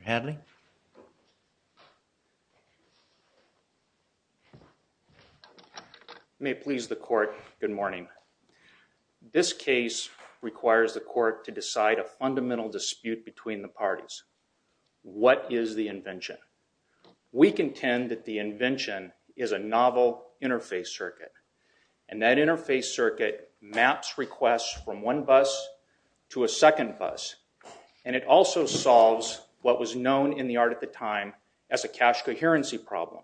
Mr. Hadley? May it please the court, good morning. This case requires the court to decide a fundamental dispute between the parties. What is the invention? We contend that the invention is a novel interface circuit, and that interface circuit maps requests from one bus to a second bus. And it also solves what was known in the art at the time as a cache coherency problem.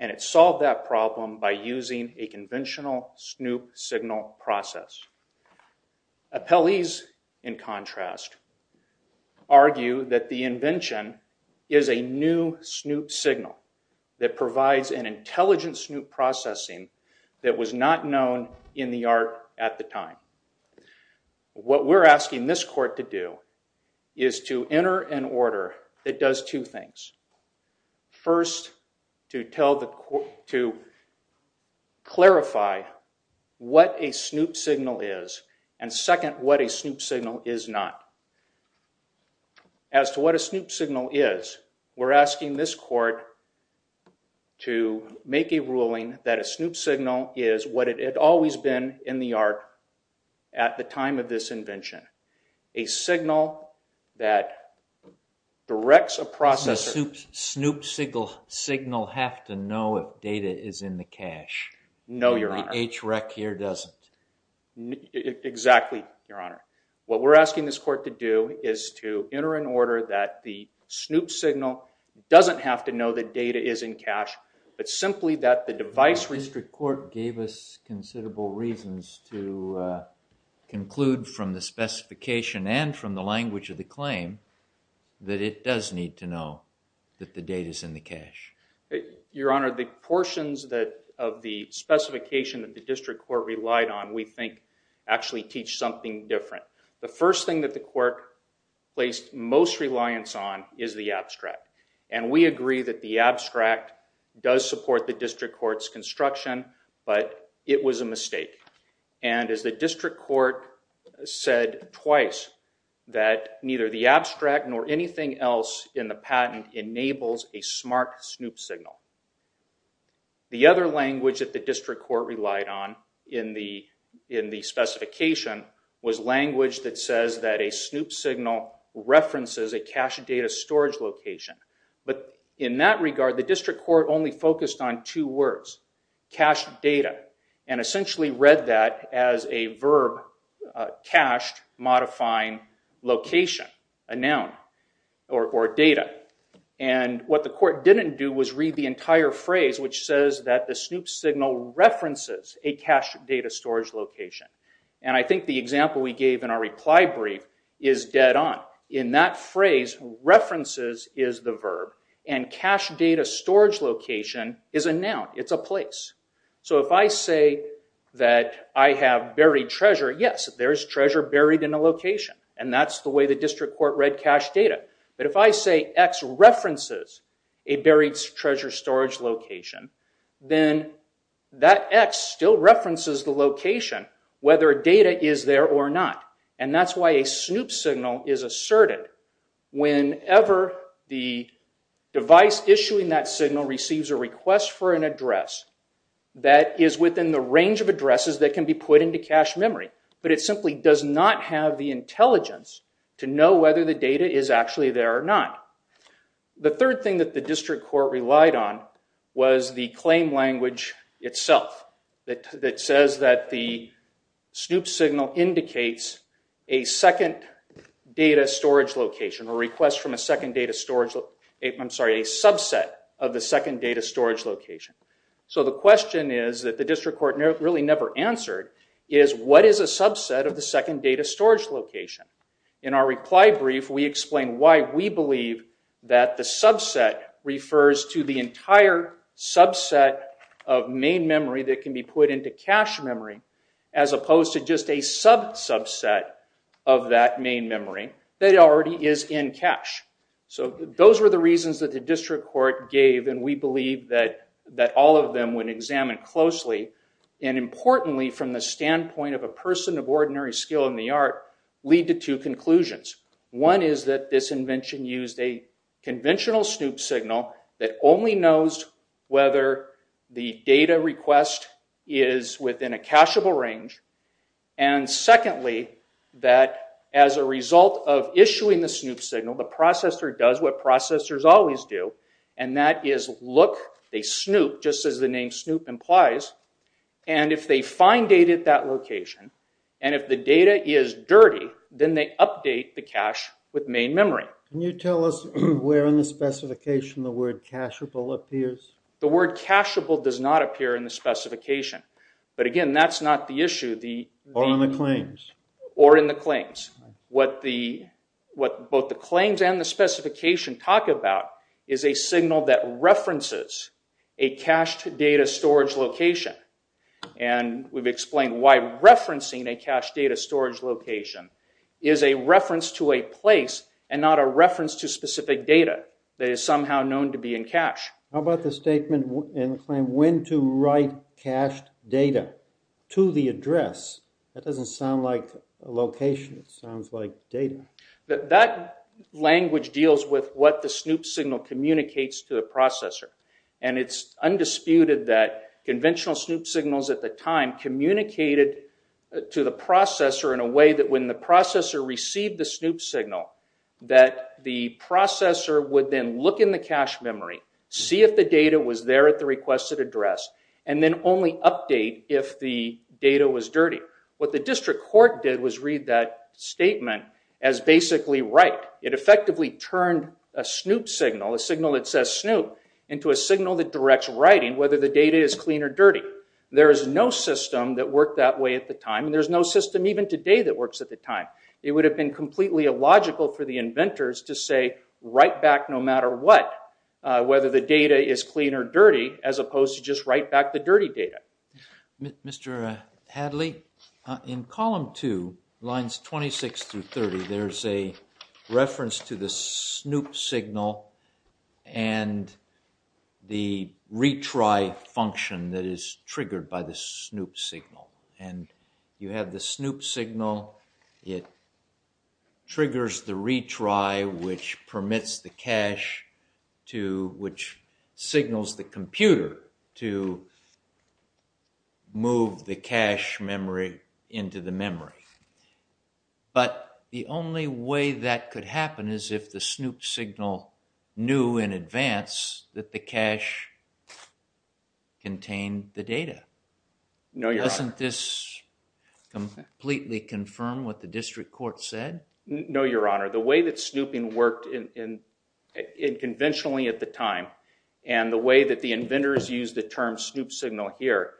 And it solved that problem by using a conventional snoop signal process. Appellees, in contrast, argue that the invention is a new snoop signal that provides an intelligent snoop processing that was not known in the art at the time. What we're asking this court to do is to enter an order that does two things. First, to clarify what a snoop signal is, and second, what a snoop signal is not. As to what a snoop signal is, we're asking this court to make a ruling that a snoop signal is what it had always been in the art at the time of this invention. A signal that directs a processor— Does the snoop signal have to know if data is in the cache? No, Your Honor. The HREC here doesn't? Exactly, Your Honor. What we're asking this court to do is to enter an order that the snoop signal doesn't have to know that data is in cache, but simply that the device— To conclude from the specification and from the language of the claim, that it does need to know that the data is in the cache. Your Honor, the portions of the specification that the district court relied on, we think, actually teach something different. The first thing that the court placed most reliance on is the abstract, and we agree that the abstract does support the district court's construction, but it was a mistake. As the district court said twice, that neither the abstract nor anything else in the patent enables a smart snoop signal. The other language that the district court relied on in the specification was language that says that a snoop signal references a cache data storage location, but in that regard, the district court only focused on two words, cache data, and essentially read that as a verb, cached, modifying location, a noun, or data. What the court didn't do was read the entire phrase, which says that the snoop signal references a cache data storage location. I think the example we gave in our reply brief is dead on. In that phrase, references is the verb, and cache data storage location is a noun. It's a place. If I say that I have buried treasure, yes, there is treasure buried in a location, and that's the way the district court read cache data, but if I say X references a buried treasure storage location, then that X still references the location, whether data is there or not, and that's why a snoop signal is asserted whenever the device issuing that signal receives a request for an address that is within the range of addresses that can be put into cache memory, but it simply does not have the intelligence to know whether the data is actually there or not. The third thing that the district court relied on was the claim language itself that says that the snoop signal indicates a second data storage location or request from a second data storage, I'm sorry, a subset of the second data storage location. So the question is that the district court really never answered is what is a subset of the second data storage location? In our reply brief, we explain why we believe that the subset refers to the entire subset of main memory that can be put into cache memory as opposed to just a sub-subset of that main memory that already is in cache. So those were the reasons that the district court gave, and we believe that all of them when examined closely and importantly from the standpoint of a person of ordinary skill in the art lead to two conclusions. One is that this invention used a conventional snoop signal that only knows whether the data request is within a cacheable range, and secondly, that as a result of issuing the snoop signal, the processor does what processors always do, and that is look a snoop just as the name snoop implies, and if they find data at that location, and if the data is dirty, then they update the cache with main memory. Can you tell us where in the specification the word cacheable appears? The word cacheable does not appear in the specification, but again, that's not the issue. Or in the claims. Or in the claims. What both the claims and the specification talk about is a signal that references a cached data storage location, and we've explained why referencing a cached data storage location is a reference to a place and not a reference to specific data that is somehow known to be in cache. How about the statement in the claim, when to write cached data to the address? That doesn't sound like a location. It sounds like data. That language deals with what the snoop signal communicates to the processor, and it's undisputed that conventional snoop signals at the time communicated to the processor in a way that when the processor received the snoop signal, that the processor would then look in the cache memory, see if the data was there at the requested address, and then only update if the data was dirty. What the district court did was read that statement as basically right. It effectively turned a snoop signal, a signal that says snoop, into a signal that directs the writing, whether the data is clean or dirty. There is no system that worked that way at the time, and there's no system even today that works at the time. It would have been completely illogical for the inventors to say, write back no matter what, whether the data is clean or dirty, as opposed to just write back the dirty data. Mr. Hadley, in column two, lines 26 through 30, there's a reference to the snoop signal and the retry function that is triggered by the snoop signal. And you have the snoop signal, it triggers the retry, which permits the cache, which signals the computer to move the cache memory into the memory. But the only way that could happen is if the snoop signal knew in advance that the cache contained the data. No, Your Honor. Doesn't this completely confirm what the district court said? No, Your Honor. The way that snooping worked conventionally at the time, and the way that the inventors used the term snoop signal here,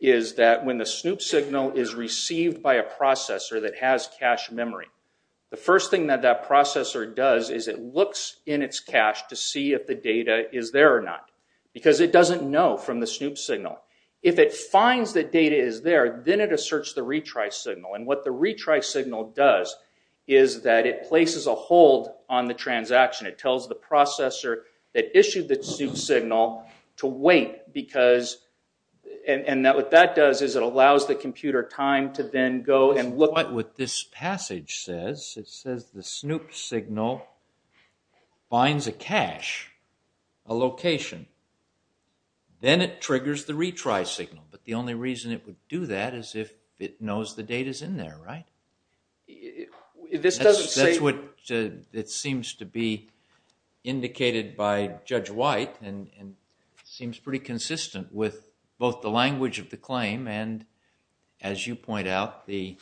is that when the snoop signal is received by a processor that has cache memory, the first thing that that processor does is it looks in its cache to see if the data is there or not, because it doesn't know from the snoop signal. If it finds that data is there, then it asserts the retry signal. And what the retry signal does is that it places a hold on the transaction. It tells the processor that issued the snoop signal to wait, and what that does is it allows the computer time to then go and look. But what this passage says, it says the snoop signal finds a cache, a location, then it triggers the retry signal. But the only reason it would do that is if it knows the data is in there, right? That's what it seems to be indicated by Judge White, and seems pretty consistent with both the language of the claim and, as you point out, the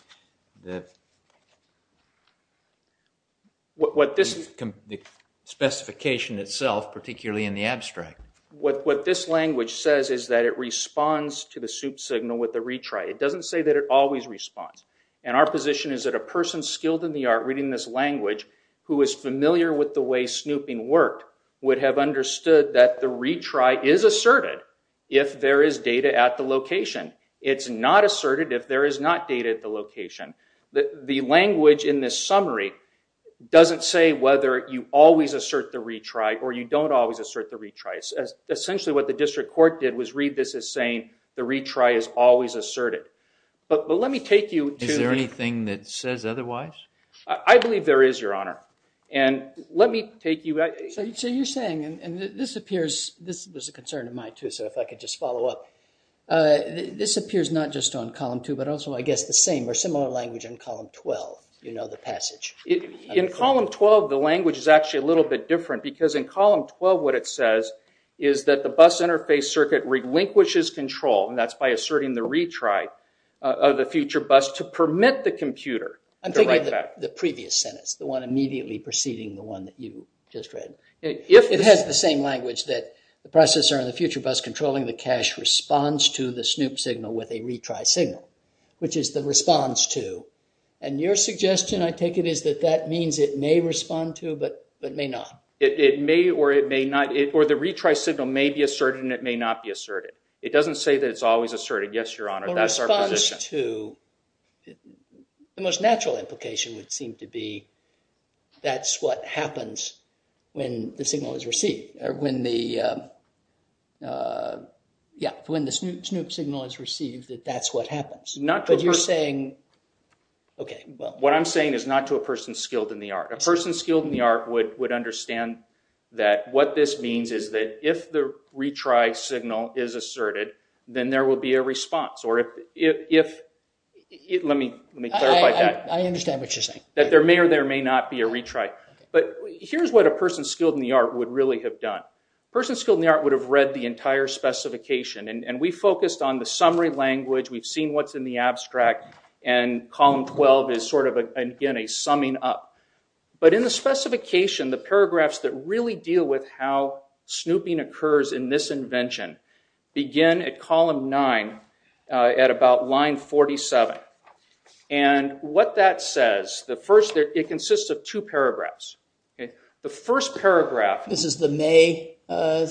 specification itself, particularly in the abstract. What this language says is that it responds to the snoop signal with a retry. It doesn't say that it always responds. And our position is that a person skilled in the art reading this language who is familiar with the way snooping worked would have understood that the retry is asserted if there is data at the location. It's not asserted if there is not data at the location. The language in this summary doesn't say whether you always assert the retry or you don't always assert the retry. Essentially, what the district court did was read this as saying the retry is always asserted. But let me take you to... Is there anything that says otherwise? I believe there is, Your Honor. So you're saying, and this appears... This was a concern of mine too, so if I could just follow up. This appears not just on Column 2, but also, I guess, the same or similar language in Column 12, you know, the passage. In Column 12, the language is actually a little bit different, because in Column 12, what it says is that the bus interface circuit relinquishes control, and that's by asserting the retry of the future bus to permit the computer to write back. I'm thinking of the previous sentence, the one immediately preceding the one that you just read. It has the same language that the processor in the future bus controlling the cache responds to the SNOOP signal with a retry signal, which is the response to. And your suggestion, I take it, is that that means it may respond to, but may not. It may or it may not, or the retry signal may be asserted and it may not be asserted. It doesn't say that it's always asserted. Yes, Your Honor, that's our position. A response to, the most natural implication would seem to be that's what happens when the signal is received, or when the, yeah, when the SNOOP signal is received, that that's what happens. Not to a person. But you're saying, okay, well. What I'm saying is not to a person skilled in the art. A person skilled in the art would understand that what this means is that if the retry signal is asserted, then there will be a response. Or if, let me clarify that. I understand what you're saying. That there may or there may not be a retry. But here's what a person skilled in the art would really have done. A person skilled in the art would have read the entire specification. And we focused on the summary language. We've seen what's in the abstract. And column 12 is sort of, again, a summing up. But in the specification, the paragraphs that really deal with how SNOOPing occurs in this invention begin at column 9 at about line 47. And what that says, the first, it consists of two paragraphs. The first paragraph. This is the May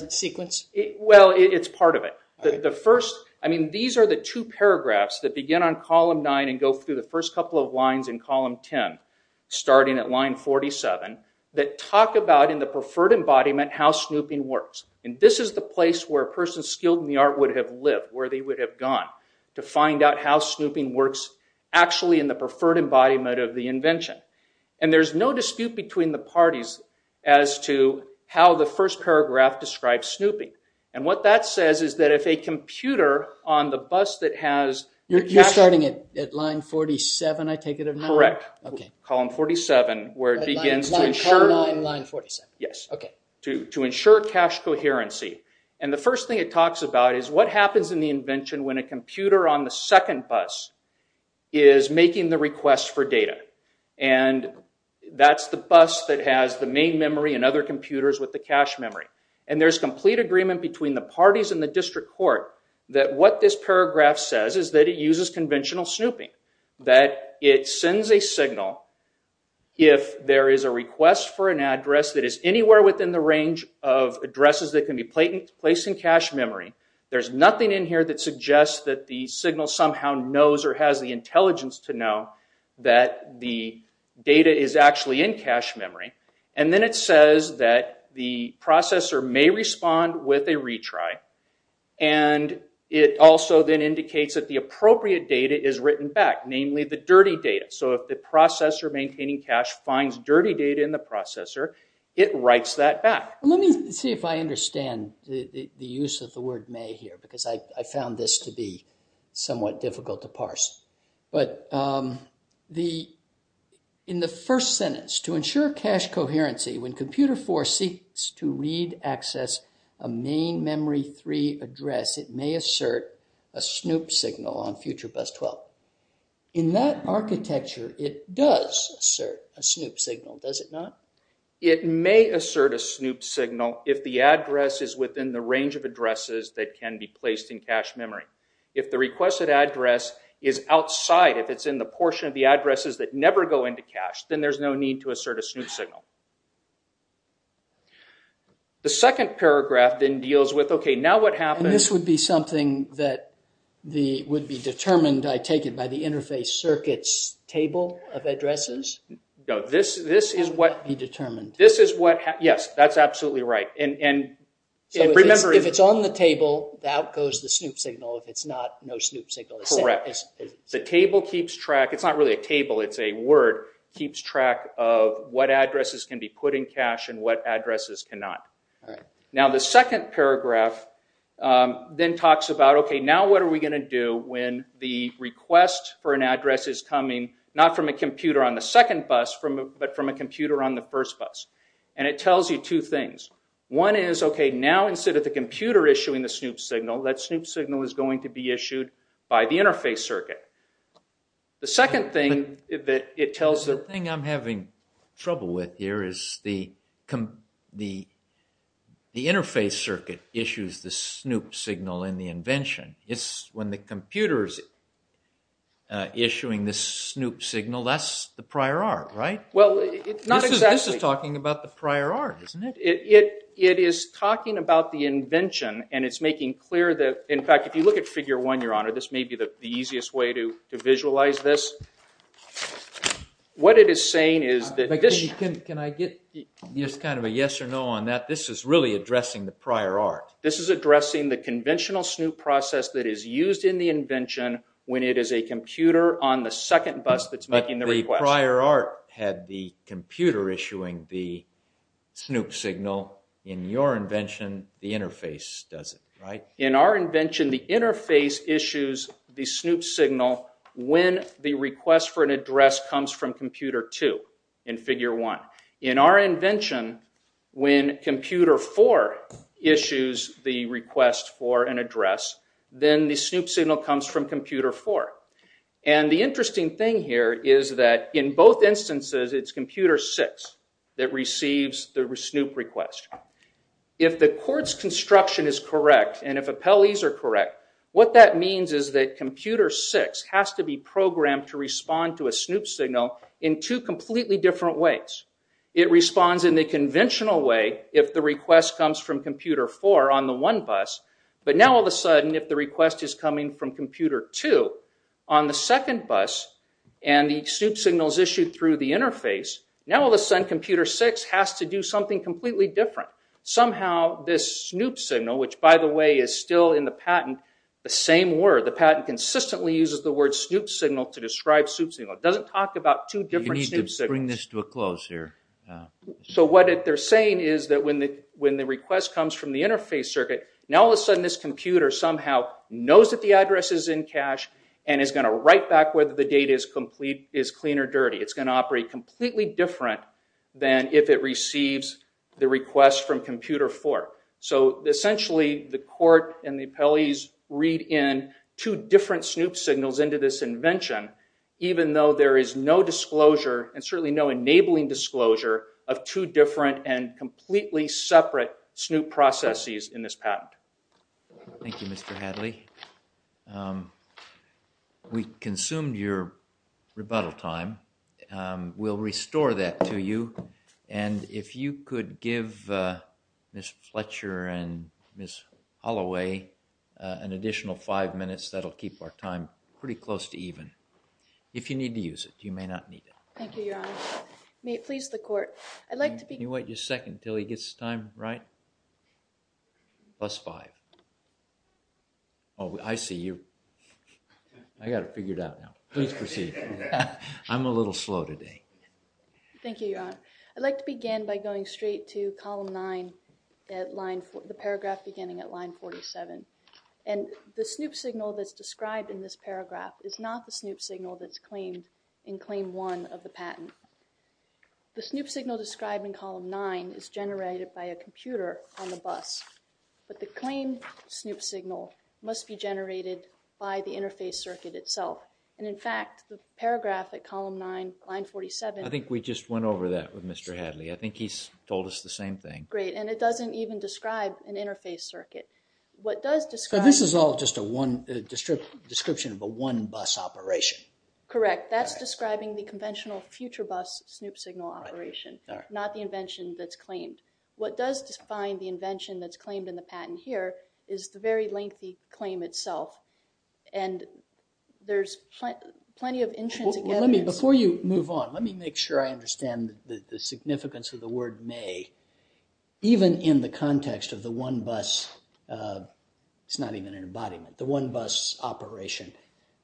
sequence? Well, it's part of it. The first, I mean, these are the two paragraphs that begin on column 9 and go through the first couple of lines in column 10, starting at line 47, that talk about in the preferred embodiment how SNOOPing works. And this is the place where a person skilled in the art would have lived, where they would have gone, to find out how SNOOPing works actually in the preferred embodiment of the invention. And there's no dispute between the parties as to how the first paragraph describes SNOOPing. And what that says is that if a computer on the bus that has the cash. You're starting at line 47, I take it, of 9? Correct. Column 47, where it begins to ensure. Line 9, line 47. Yes. OK. To ensure cash coherency. And the first thing it talks about is what happens in the invention when a computer on the second bus is making the request for data. And that's the bus that has the main memory and other computers with the cash memory. And there's complete agreement between the parties in the district court that what this paragraph says is that it uses conventional SNOOPing. That it sends a signal if there is a request for an address that is anywhere within the range of addresses that can be placed in cash memory. There's nothing in here that suggests that the signal somehow knows or has the intelligence to know that the data is actually in cash memory. And then it says that the processor may respond with a retry. And it also then indicates that the appropriate data is written back. Namely, the dirty data. So if the processor maintaining cash finds dirty data in the processor, it writes that Let me see if I understand the use of the word may here. Because I found this to be somewhat difficult to parse. But in the first sentence, to ensure cash coherency, when computer 4 seeks to read access a main memory 3 address, it may assert a SNOOP signal on future bus 12. In that architecture, it does assert a SNOOP signal, does it not? It may assert a SNOOP signal if the address is within the range of addresses that can be placed in cash memory. If the requested address is outside, if it's in the portion of the addresses that never go into cash, then there's no need to assert a SNOOP signal. The second paragraph then deals with, okay, now what happens And this would be something that would be determined, I take it, by the interface circuits table of addresses? No, this is what Yes, that's absolutely right. If it's on the table, out goes the SNOOP signal. If it's not, no SNOOP signal. Correct. The table keeps track, it's not really a table, it's a word, keeps track of what addresses can be put in cash and what addresses cannot. Now the second paragraph then talks about, okay, now what are we going to do when the but from a computer on the first bus? And it tells you two things. One is, okay, now instead of the computer issuing the SNOOP signal, that SNOOP signal is going to be issued by the interface circuit. The second thing that it tells the The thing I'm having trouble with here is the interface circuit issues the SNOOP signal in the invention. When the computer is issuing the SNOOP signal, that's the prior art, right? Well, not exactly. This is talking about the prior art, isn't it? It is talking about the invention and it's making clear that, in fact, if you look at figure one, your honor, this may be the easiest way to visualize this. What it is saying is that this Can I get just kind of a yes or no on that? This is really addressing the prior art. This is addressing the conventional SNOOP process that is used in the invention when it is a computer on the second bus that's making the request. But the prior art had the computer issuing the SNOOP signal. In your invention, the interface does it, right? In our invention, the interface issues the SNOOP signal when the request for an address comes from computer two in figure one. In our invention, when computer four issues the request for an address, then the SNOOP signal comes from computer four. And the interesting thing here is that in both instances, it's computer six that receives the SNOOP request. If the court's construction is correct and if appellees are correct, what that means is that computer six has to be programmed to respond to a SNOOP signal in two completely different ways. It responds in the conventional way if the request comes from computer four on the one bus. But now all of a sudden, if the request is coming from computer two on the second bus and the SNOOP signal is issued through the interface, now all of a sudden computer six has to do something completely different. Somehow this SNOOP signal, which by the way is still in the patent, the same word, the patent consistently uses the word SNOOP signal to describe SNOOP signal. It doesn't talk about two different SNOOP signals. Bring this to a close here. So what they're saying is that when the request comes from the interface circuit, now all of a sudden this computer somehow knows that the address is in cache and is going to write back whether the data is clean or dirty. It's going to operate completely different than if it receives the request from computer four. So essentially the court and the appellees read in two different SNOOP signals into this enabling disclosure of two different and completely separate SNOOP processes in this patent. Thank you, Mr. Hadley. We consumed your rebuttal time. We'll restore that to you. And if you could give Ms. Fletcher and Ms. Holloway an additional five minutes, that'll keep our time pretty close to even. If you need to use it, you may not need it. Thank you, Your Honor. May it please the court. I'd like to begin. Can you wait just a second until he gets his time right? Plus five. Oh, I see you. I got it figured out now. Please proceed. I'm a little slow today. Thank you, Your Honor. I'd like to begin by going straight to column nine at line four, the paragraph beginning at line 47. And the SNOOP signal that's described in this paragraph is not the SNOOP signal that's in claim one of the patent. The SNOOP signal described in column nine is generated by a computer on the bus. But the claimed SNOOP signal must be generated by the interface circuit itself. And in fact, the paragraph at column nine, line 47. I think we just went over that with Mr. Hadley. I think he's told us the same thing. Great. And it doesn't even describe an interface circuit. What does describe. This is all just a one description of a one bus operation. Correct. That's describing the conventional future bus SNOOP signal operation, not the invention that's claimed. What does define the invention that's claimed in the patent here is the very lengthy claim itself. And there's plenty of intrinsic. Let me before you move on. Let me make sure I understand the significance of the word may. Even in the context of the one bus. It's not even an embodiment, the one bus operation.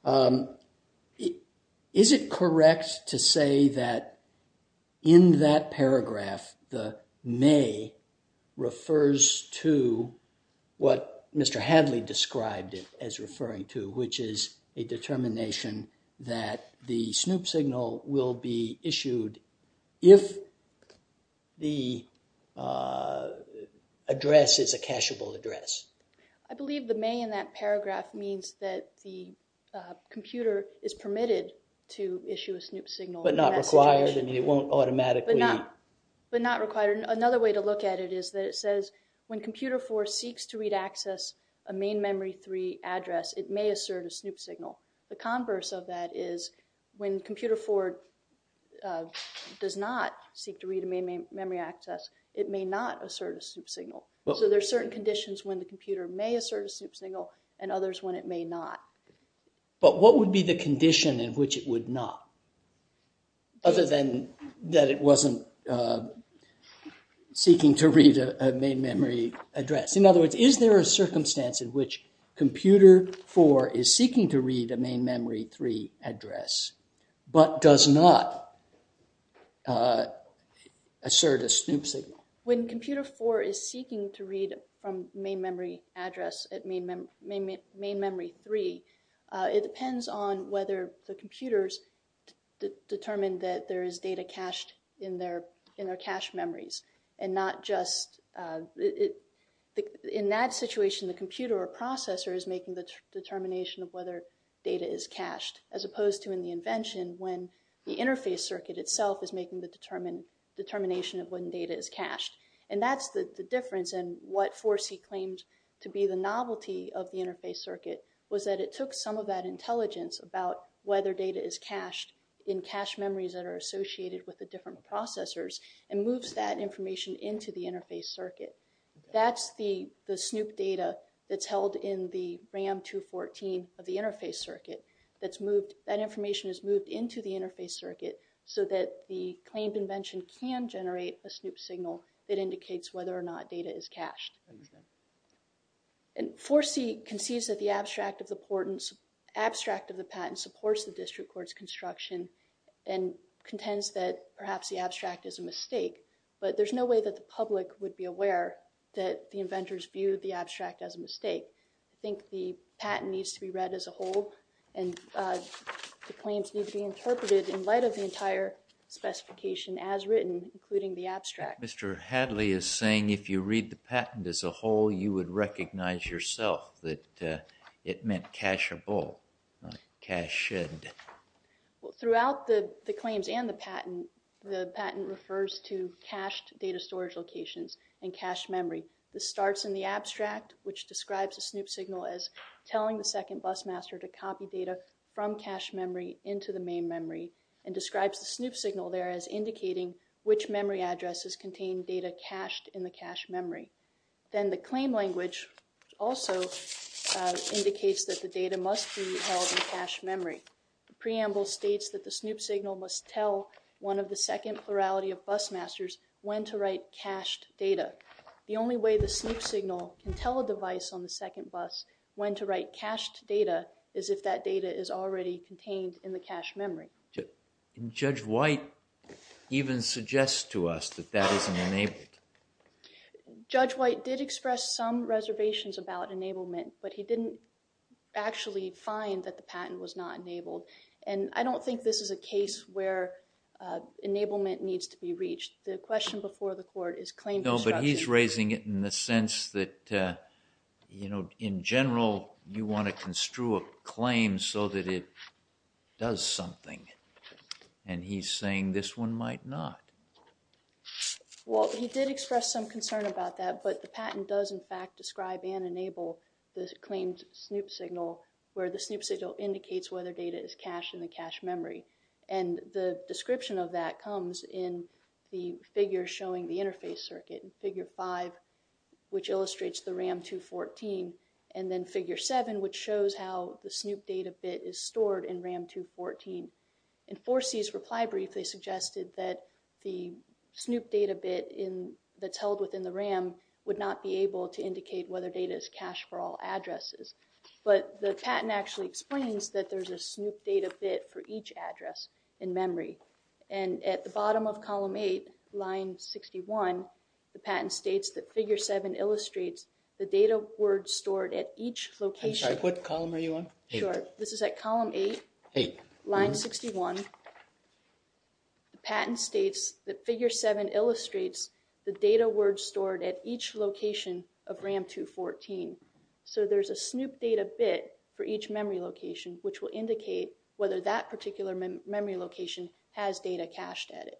Is it correct to say that in that paragraph, the may refers to what Mr. Hadley described it as referring to, which is a determination that the SNOOP signal will be issued if the address is a cashable address. I believe the may in that paragraph means that the computer is permitted to issue a SNOOP signal, but not required and it won't automatically, but not required. Another way to look at it is that it says when computer four seeks to read access a main memory three address, it may assert a SNOOP signal. The converse of that is when computer four does not seek to read a main memory access, it may not assert a SNOOP signal. So there's certain conditions when the computer may assert a SNOOP signal and others when it may not. But what would be the condition in which it would not? Other than that it wasn't seeking to read a main memory address. In other words, is there a circumstance in which computer four is seeking to read a main memory three address, but does not assert a SNOOP signal? When computer four is seeking to read from main memory address, main memory three, it depends on whether the computers determine that there is data cached in their cache memories and not just in that situation the computer or processor is making the determination of whether data is cached as opposed to in the invention when the interface circuit itself is making the determination of when data is cached. And that's the difference and what 4C claims to be the novelty of the interface circuit was that it took some of that intelligence about whether data is cached in cache memories that are associated with the different processors and moves that information into the interface circuit. That's the SNOOP data that's held in the RAM 214 of the interface circuit. That information is moved into the interface circuit so that the claimed invention can generate a SNOOP signal that indicates whether or not data is cached. And 4C concedes that the abstract of the patent supports the district court's construction and contends that perhaps the abstract is a mistake. But there's no way that the public would be aware that the inventors viewed the abstract as a mistake. I think the patent needs to be read as a whole and the claims need to be interpreted in light of the entire specification as written, including the abstract. Mr. Hadley is saying if you read the patent as a whole you would recognize yourself that it meant cacheable, not cached. Throughout the claims and the patent, the patent refers to cached data storage locations and cached memory. This starts in the abstract, which describes a SNOOP signal as telling the second bus master to copy data from cached memory into the main memory and describes the SNOOP signal there as indicating which memory addresses contain data cached in the cached memory. Then the claim language also indicates that the data must be held in cached memory. The preamble states that the SNOOP signal must tell one of the second plurality of bus masters when to write cached data. The only way the SNOOP signal can tell a device on the second bus when to write cached data is if that data is already contained in the cached memory. Can Judge White even suggest to us that that isn't enabled? Judge White did express some reservations about enablement, but he didn't actually find that the patent was not enabled. And I don't think this is a case where enablement needs to be reached. The question before the court is claim construction. No, but he's raising it in the sense that, you know, in general you want to construe a claim so that it does something. And he's saying this one might not. Well, he did express some concern about that, but the patent does in fact describe and enable the claimed SNOOP signal where the SNOOP signal indicates whether data is cached in the cached memory. And the description of that comes in the figure showing the interface circuit in figure 5, which illustrates the RAM 214, and then figure 7, which shows how the SNOOP data bit is stored in RAM 214. In 4C's reply brief, they suggested that the SNOOP data bit that's held within the RAM would not be able to indicate whether data is cached for all addresses. But the patent actually explains that there's a SNOOP data bit for each address in memory. And at the bottom of column 8, line 61, the patent states that figure 7 illustrates the data word stored at each location. I'm sorry, what column are you on? Sure, this is at column 8, line 61. The patent states that figure 7 illustrates the data word stored at each location of RAM 214. So there's a SNOOP data bit for each memory location, which will indicate whether that particular memory location has data cached at it.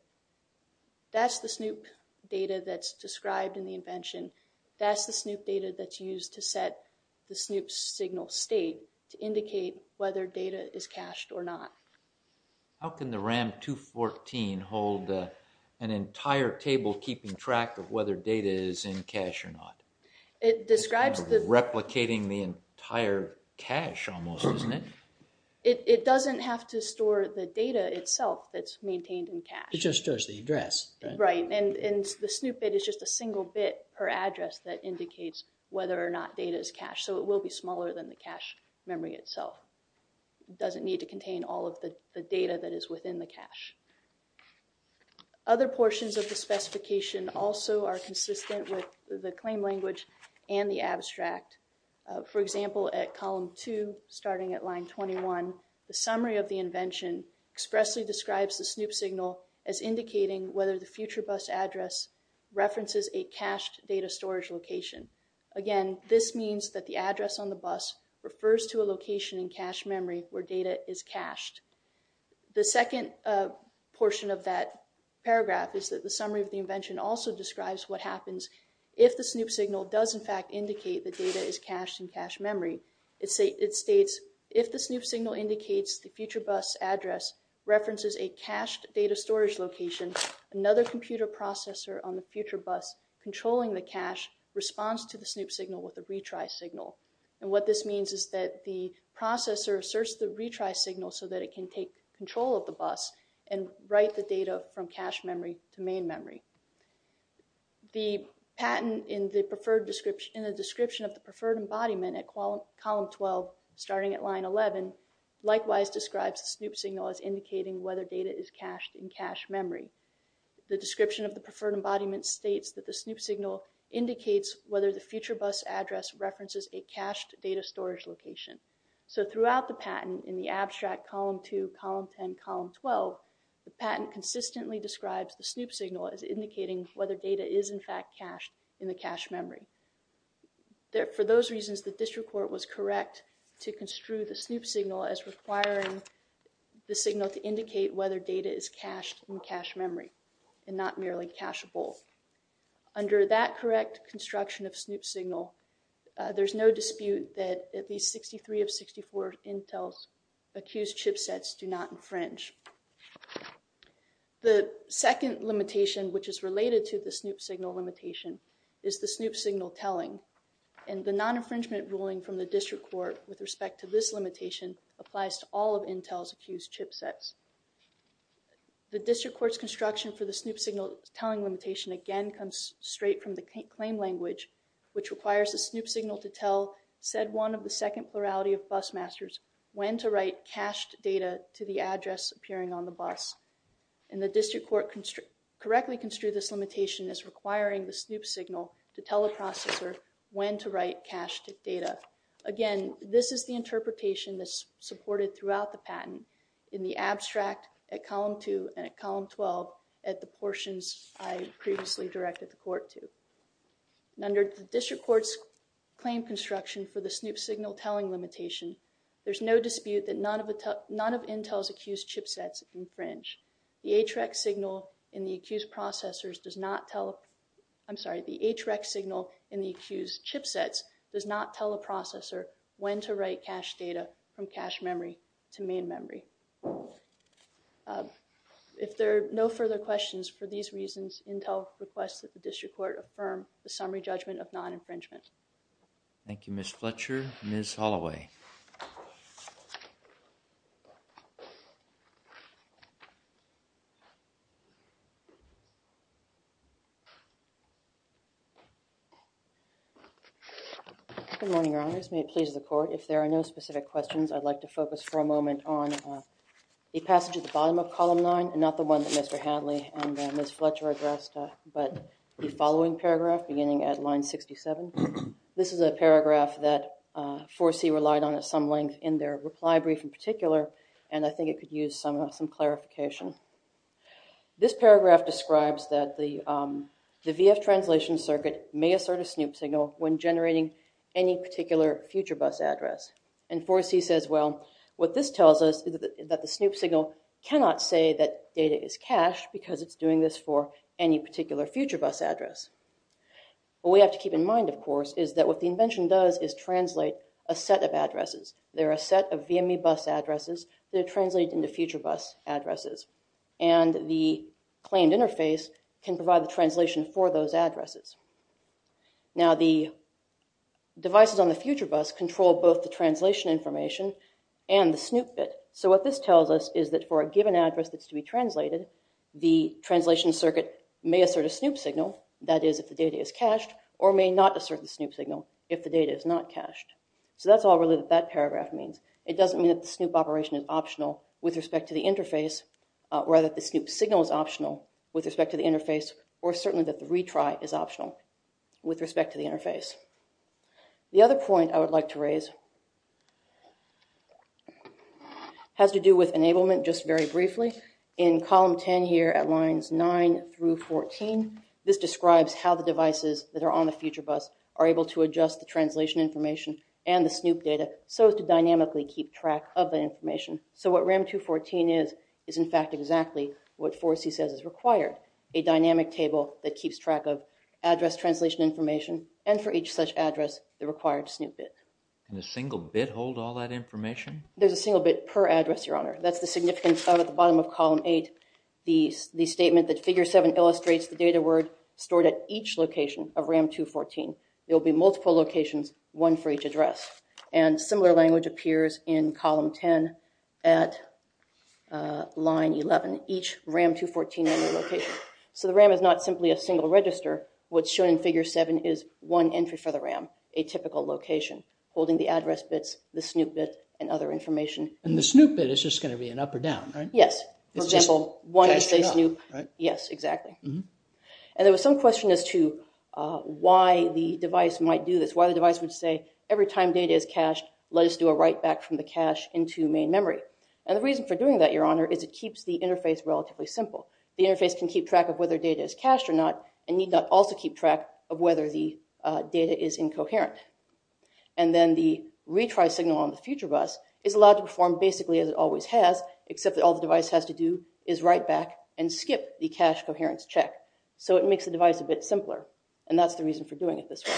That's the SNOOP data that's described in the invention. That's the SNOOP data that's used to set the SNOOP signal state to indicate whether data is cached or not. How can the RAM 214 hold an entire table keeping track of whether data is in cache or not? It describes the... Replicating the entire cache almost, isn't it? It doesn't have to store the data itself that's maintained in cache. It just stores the address, right? Right, and the SNOOP bit is just a single bit per address that indicates whether or not data is cached. So it will be smaller than the cache memory itself. Other portions of the specification also are consistent with the claim language and the abstract. For example, at column 2, starting at line 21, the summary of the invention expressly describes the SNOOP signal as indicating whether the future bus address references a cached data storage location. Again, this means that the address on the bus refers to a location in cache memory where data is cached. The second portion of that paragraph is that the summary of the invention also describes what happens if the SNOOP signal does, in fact, indicate the data is cached in cache memory. It states, if the SNOOP signal indicates the future bus address references a cached data storage location, another computer processor on the future bus controlling the cache responds to the SNOOP signal with a retry signal. And what this means is that the processor asserts the retry signal so that it can take control of the bus and write the data from cache memory to main memory. The patent in the description of the preferred embodiment at column 12, starting at line 11, likewise describes the SNOOP signal as indicating whether data is cached in cache memory. The description of the preferred embodiment states that the SNOOP signal indicates whether the future bus address references a cached data storage location. So throughout the patent, in the abstract column 2, column 10, column 12, the patent consistently describes the SNOOP signal as indicating whether data is, in fact, cached in the cache memory. For those reasons, the district court was correct to construe the SNOOP signal as requiring the signal to indicate whether data is cached in cache memory and not merely cacheable. Under that correct construction of SNOOP signal, there's no dispute that at least 63 of 64 Intel's accused chipsets do not infringe. The second limitation, which is related to the SNOOP signal limitation, is the SNOOP signal telling. And the non-infringement ruling from the district court with respect to this limitation applies to all of Intel's accused chipsets. The district court's construction for the SNOOP signal telling limitation, again, comes straight from the claim language, which requires the SNOOP signal to tell, said one of the second plurality of busmasters, when to write cached data to the address appearing on the bus. And the district court correctly construed this limitation as requiring the SNOOP signal to tell a processor when to write cached data. Again, this is the interpretation that's supported throughout the patent. In the abstract, at column 2 and at column 12, at the portions I previously directed the court to. Under the district court's claim construction for the SNOOP signal telling limitation, there's no dispute that none of Intel's accused chipsets infringe. The HREC signal in the accused processors does not tell, I'm sorry, the HREC signal in the accused chipsets does not tell a processor when to write cached data from cache memory to main memory. If there are no further questions for these reasons, Intel requests that the district court affirm the summary judgment of non-infringement. Thank you, Ms. Fletcher. Ms. Holloway. Good morning, Your Honors. May it please the court, if there are no specific questions, I'd like to focus for a moment on the passage at the bottom of column 9, and not the one that Mr. Hadley and Ms. Fletcher addressed, but the following paragraph beginning at line 67. This is a paragraph that 4C relied on at some length in their reply brief in particular, and I think it could use some clarification. This paragraph describes that the VF translation circuit may assert a SNOOP signal when generating any particular future bus address. And 4C says, well, what this tells us is that the SNOOP signal cannot say that data is cached because it's doing this for any particular future bus address. What we have to keep in mind, of course, is that what the invention does is translate a set of addresses. There are a set of VME bus addresses that are translated into future bus addresses, and the claimed interface can provide the translation for those addresses. Now, the devices on the future bus control both the translation information and the SNOOP bit. So what this tells us is that for a given address that's to be translated, the translation circuit may assert a SNOOP signal, that is, if the data is cached, or may not assert the SNOOP signal if the data is not cached. So that's all really that that paragraph means. It doesn't mean that the SNOOP operation is optional with respect to the interface, or that the SNOOP signal is optional with respect to the interface, or certainly that the retry is optional. With respect to the interface. The other point I would like to raise has to do with enablement, just very briefly. In column 10 here at lines 9 through 14, this describes how the devices that are on the future bus are able to adjust the translation information and the SNOOP data so as to dynamically keep track of the information. So what RAM 214 is, is in fact exactly what 4C says is required, a dynamic table that has address translation information, and for each such address, the required SNOOP bit. Can a single bit hold all that information? There's a single bit per address, your honor. That's the significance of, at the bottom of column 8, the statement that figure 7 illustrates the data word stored at each location of RAM 214. There will be multiple locations, one for each address. And similar language appears in column 10 at line 11, each RAM 214 location. So the RAM is not simply a single register. What's shown in figure 7 is one entry for the RAM, a typical location, holding the address bits, the SNOOP bit, and other information. And the SNOOP bit is just going to be an up or down, right? Yes. For example, one would say SNOOP. Yes, exactly. And there was some question as to why the device might do this. Why the device would say, every time data is cached, let us do a write back from the cache into main memory. And the reason for doing that, your honor, is it keeps the interface relatively simple. The interface can keep track of whether data is cached or not, and need not also keep track of whether the data is incoherent. And then the retry signal on the future bus is allowed to perform basically as it always has, except that all the device has to do is write back and skip the cache coherence check. So it makes the device a bit simpler. And that's the reason for doing it this way.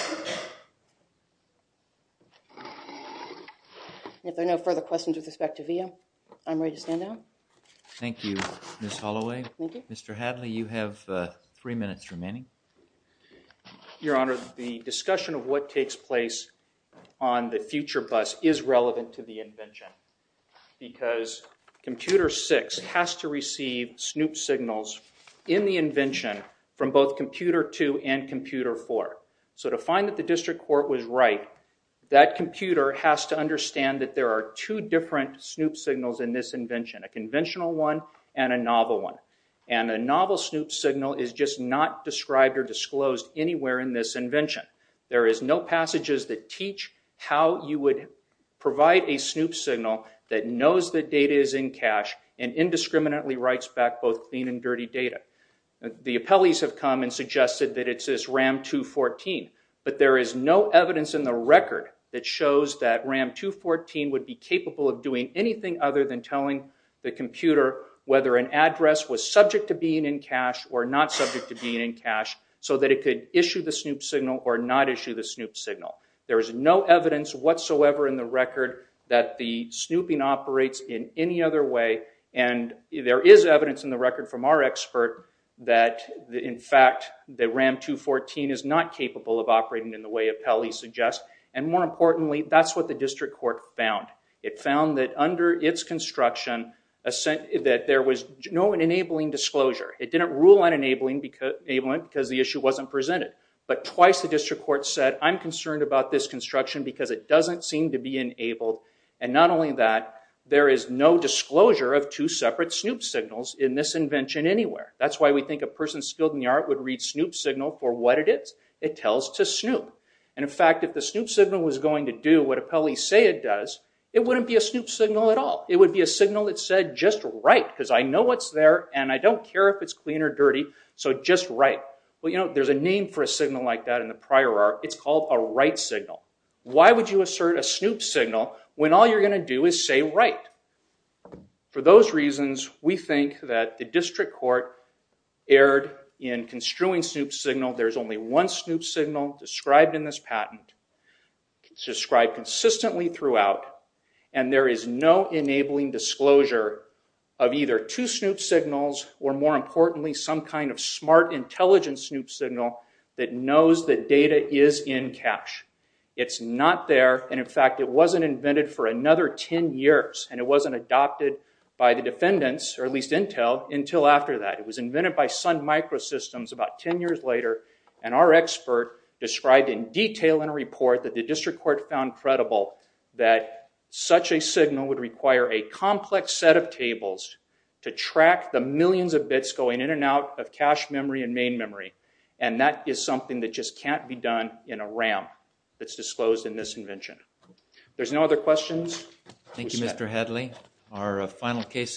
If there are no further questions with respect to VIA, I'm ready to stand down. Thank you, Ms. Holloway. Mr. Hadley, you have three minutes remaining. Your honor, the discussion of what takes place on the future bus is relevant to the invention. Because computer six has to receive SNOOP signals in the invention from both computer two and computer four. So to find that the district court was right, that computer has to understand that there are two different SNOOP signals in this invention, a conventional one and a novel one. And a novel SNOOP signal is just not described or disclosed anywhere in this invention. There is no passages that teach how you would provide a SNOOP signal that knows the data is in cache and indiscriminately writes back both clean and dirty data. The appellees have come and suggested that it's this RAM 214, but there is no evidence in the record that shows that RAM 214 would be capable of doing anything other than telling the computer whether an address was subject to being in cache or not subject to being in cache so that it could issue the SNOOP signal or not issue the SNOOP signal. There is no evidence whatsoever in the record that the SNOOPing operates in any other way. And there is evidence in the record from our expert that, in fact, the RAM 214 is not capable of operating in the way appellees suggest. And more importantly, that's what the district court found. It found that under its construction, that there was no enabling disclosure. It didn't rule on enabling because the issue wasn't presented. But twice the district court said, I'm concerned about this construction because it doesn't seem to be enabled. And not only that, there is no disclosure of two separate SNOOP signals in this invention anywhere. That's why we think a person skilled in the art would read SNOOP signal for what it is. It tells to SNOOP. And in fact, if the SNOOP signal was going to do what appellees say it does, it wouldn't be a SNOOP signal at all. It would be a signal that said just right because I know what's there and I don't care if it's clean or dirty. So just right. Well, you know, there's a name for a signal like that in the prior art. It's called a right signal. Why would you assert a SNOOP signal when all you're going to do is say right? For those reasons, we think that the district court erred in construing SNOOP signal. There's only one SNOOP signal described in this patent. It's described consistently throughout. And there is no enabling disclosure of either two SNOOP signals or more importantly, some kind of smart intelligence SNOOP signal that knows that data is in cash. It's not there. And in fact, it wasn't invented for another 10 years. And it wasn't adopted by the defendants or at least Intel until after that. It was invented by Sun Microsystems about 10 years later. And our expert described in detail in a report that the district court found credible that such a signal would require a complex set of tables to track the millions of bits going in and out of cash memory and main memory. And that is something that just can't be done in a RAM that's disclosed in this invention. There's no other questions. Thank you, Mr. Headley. Our final case.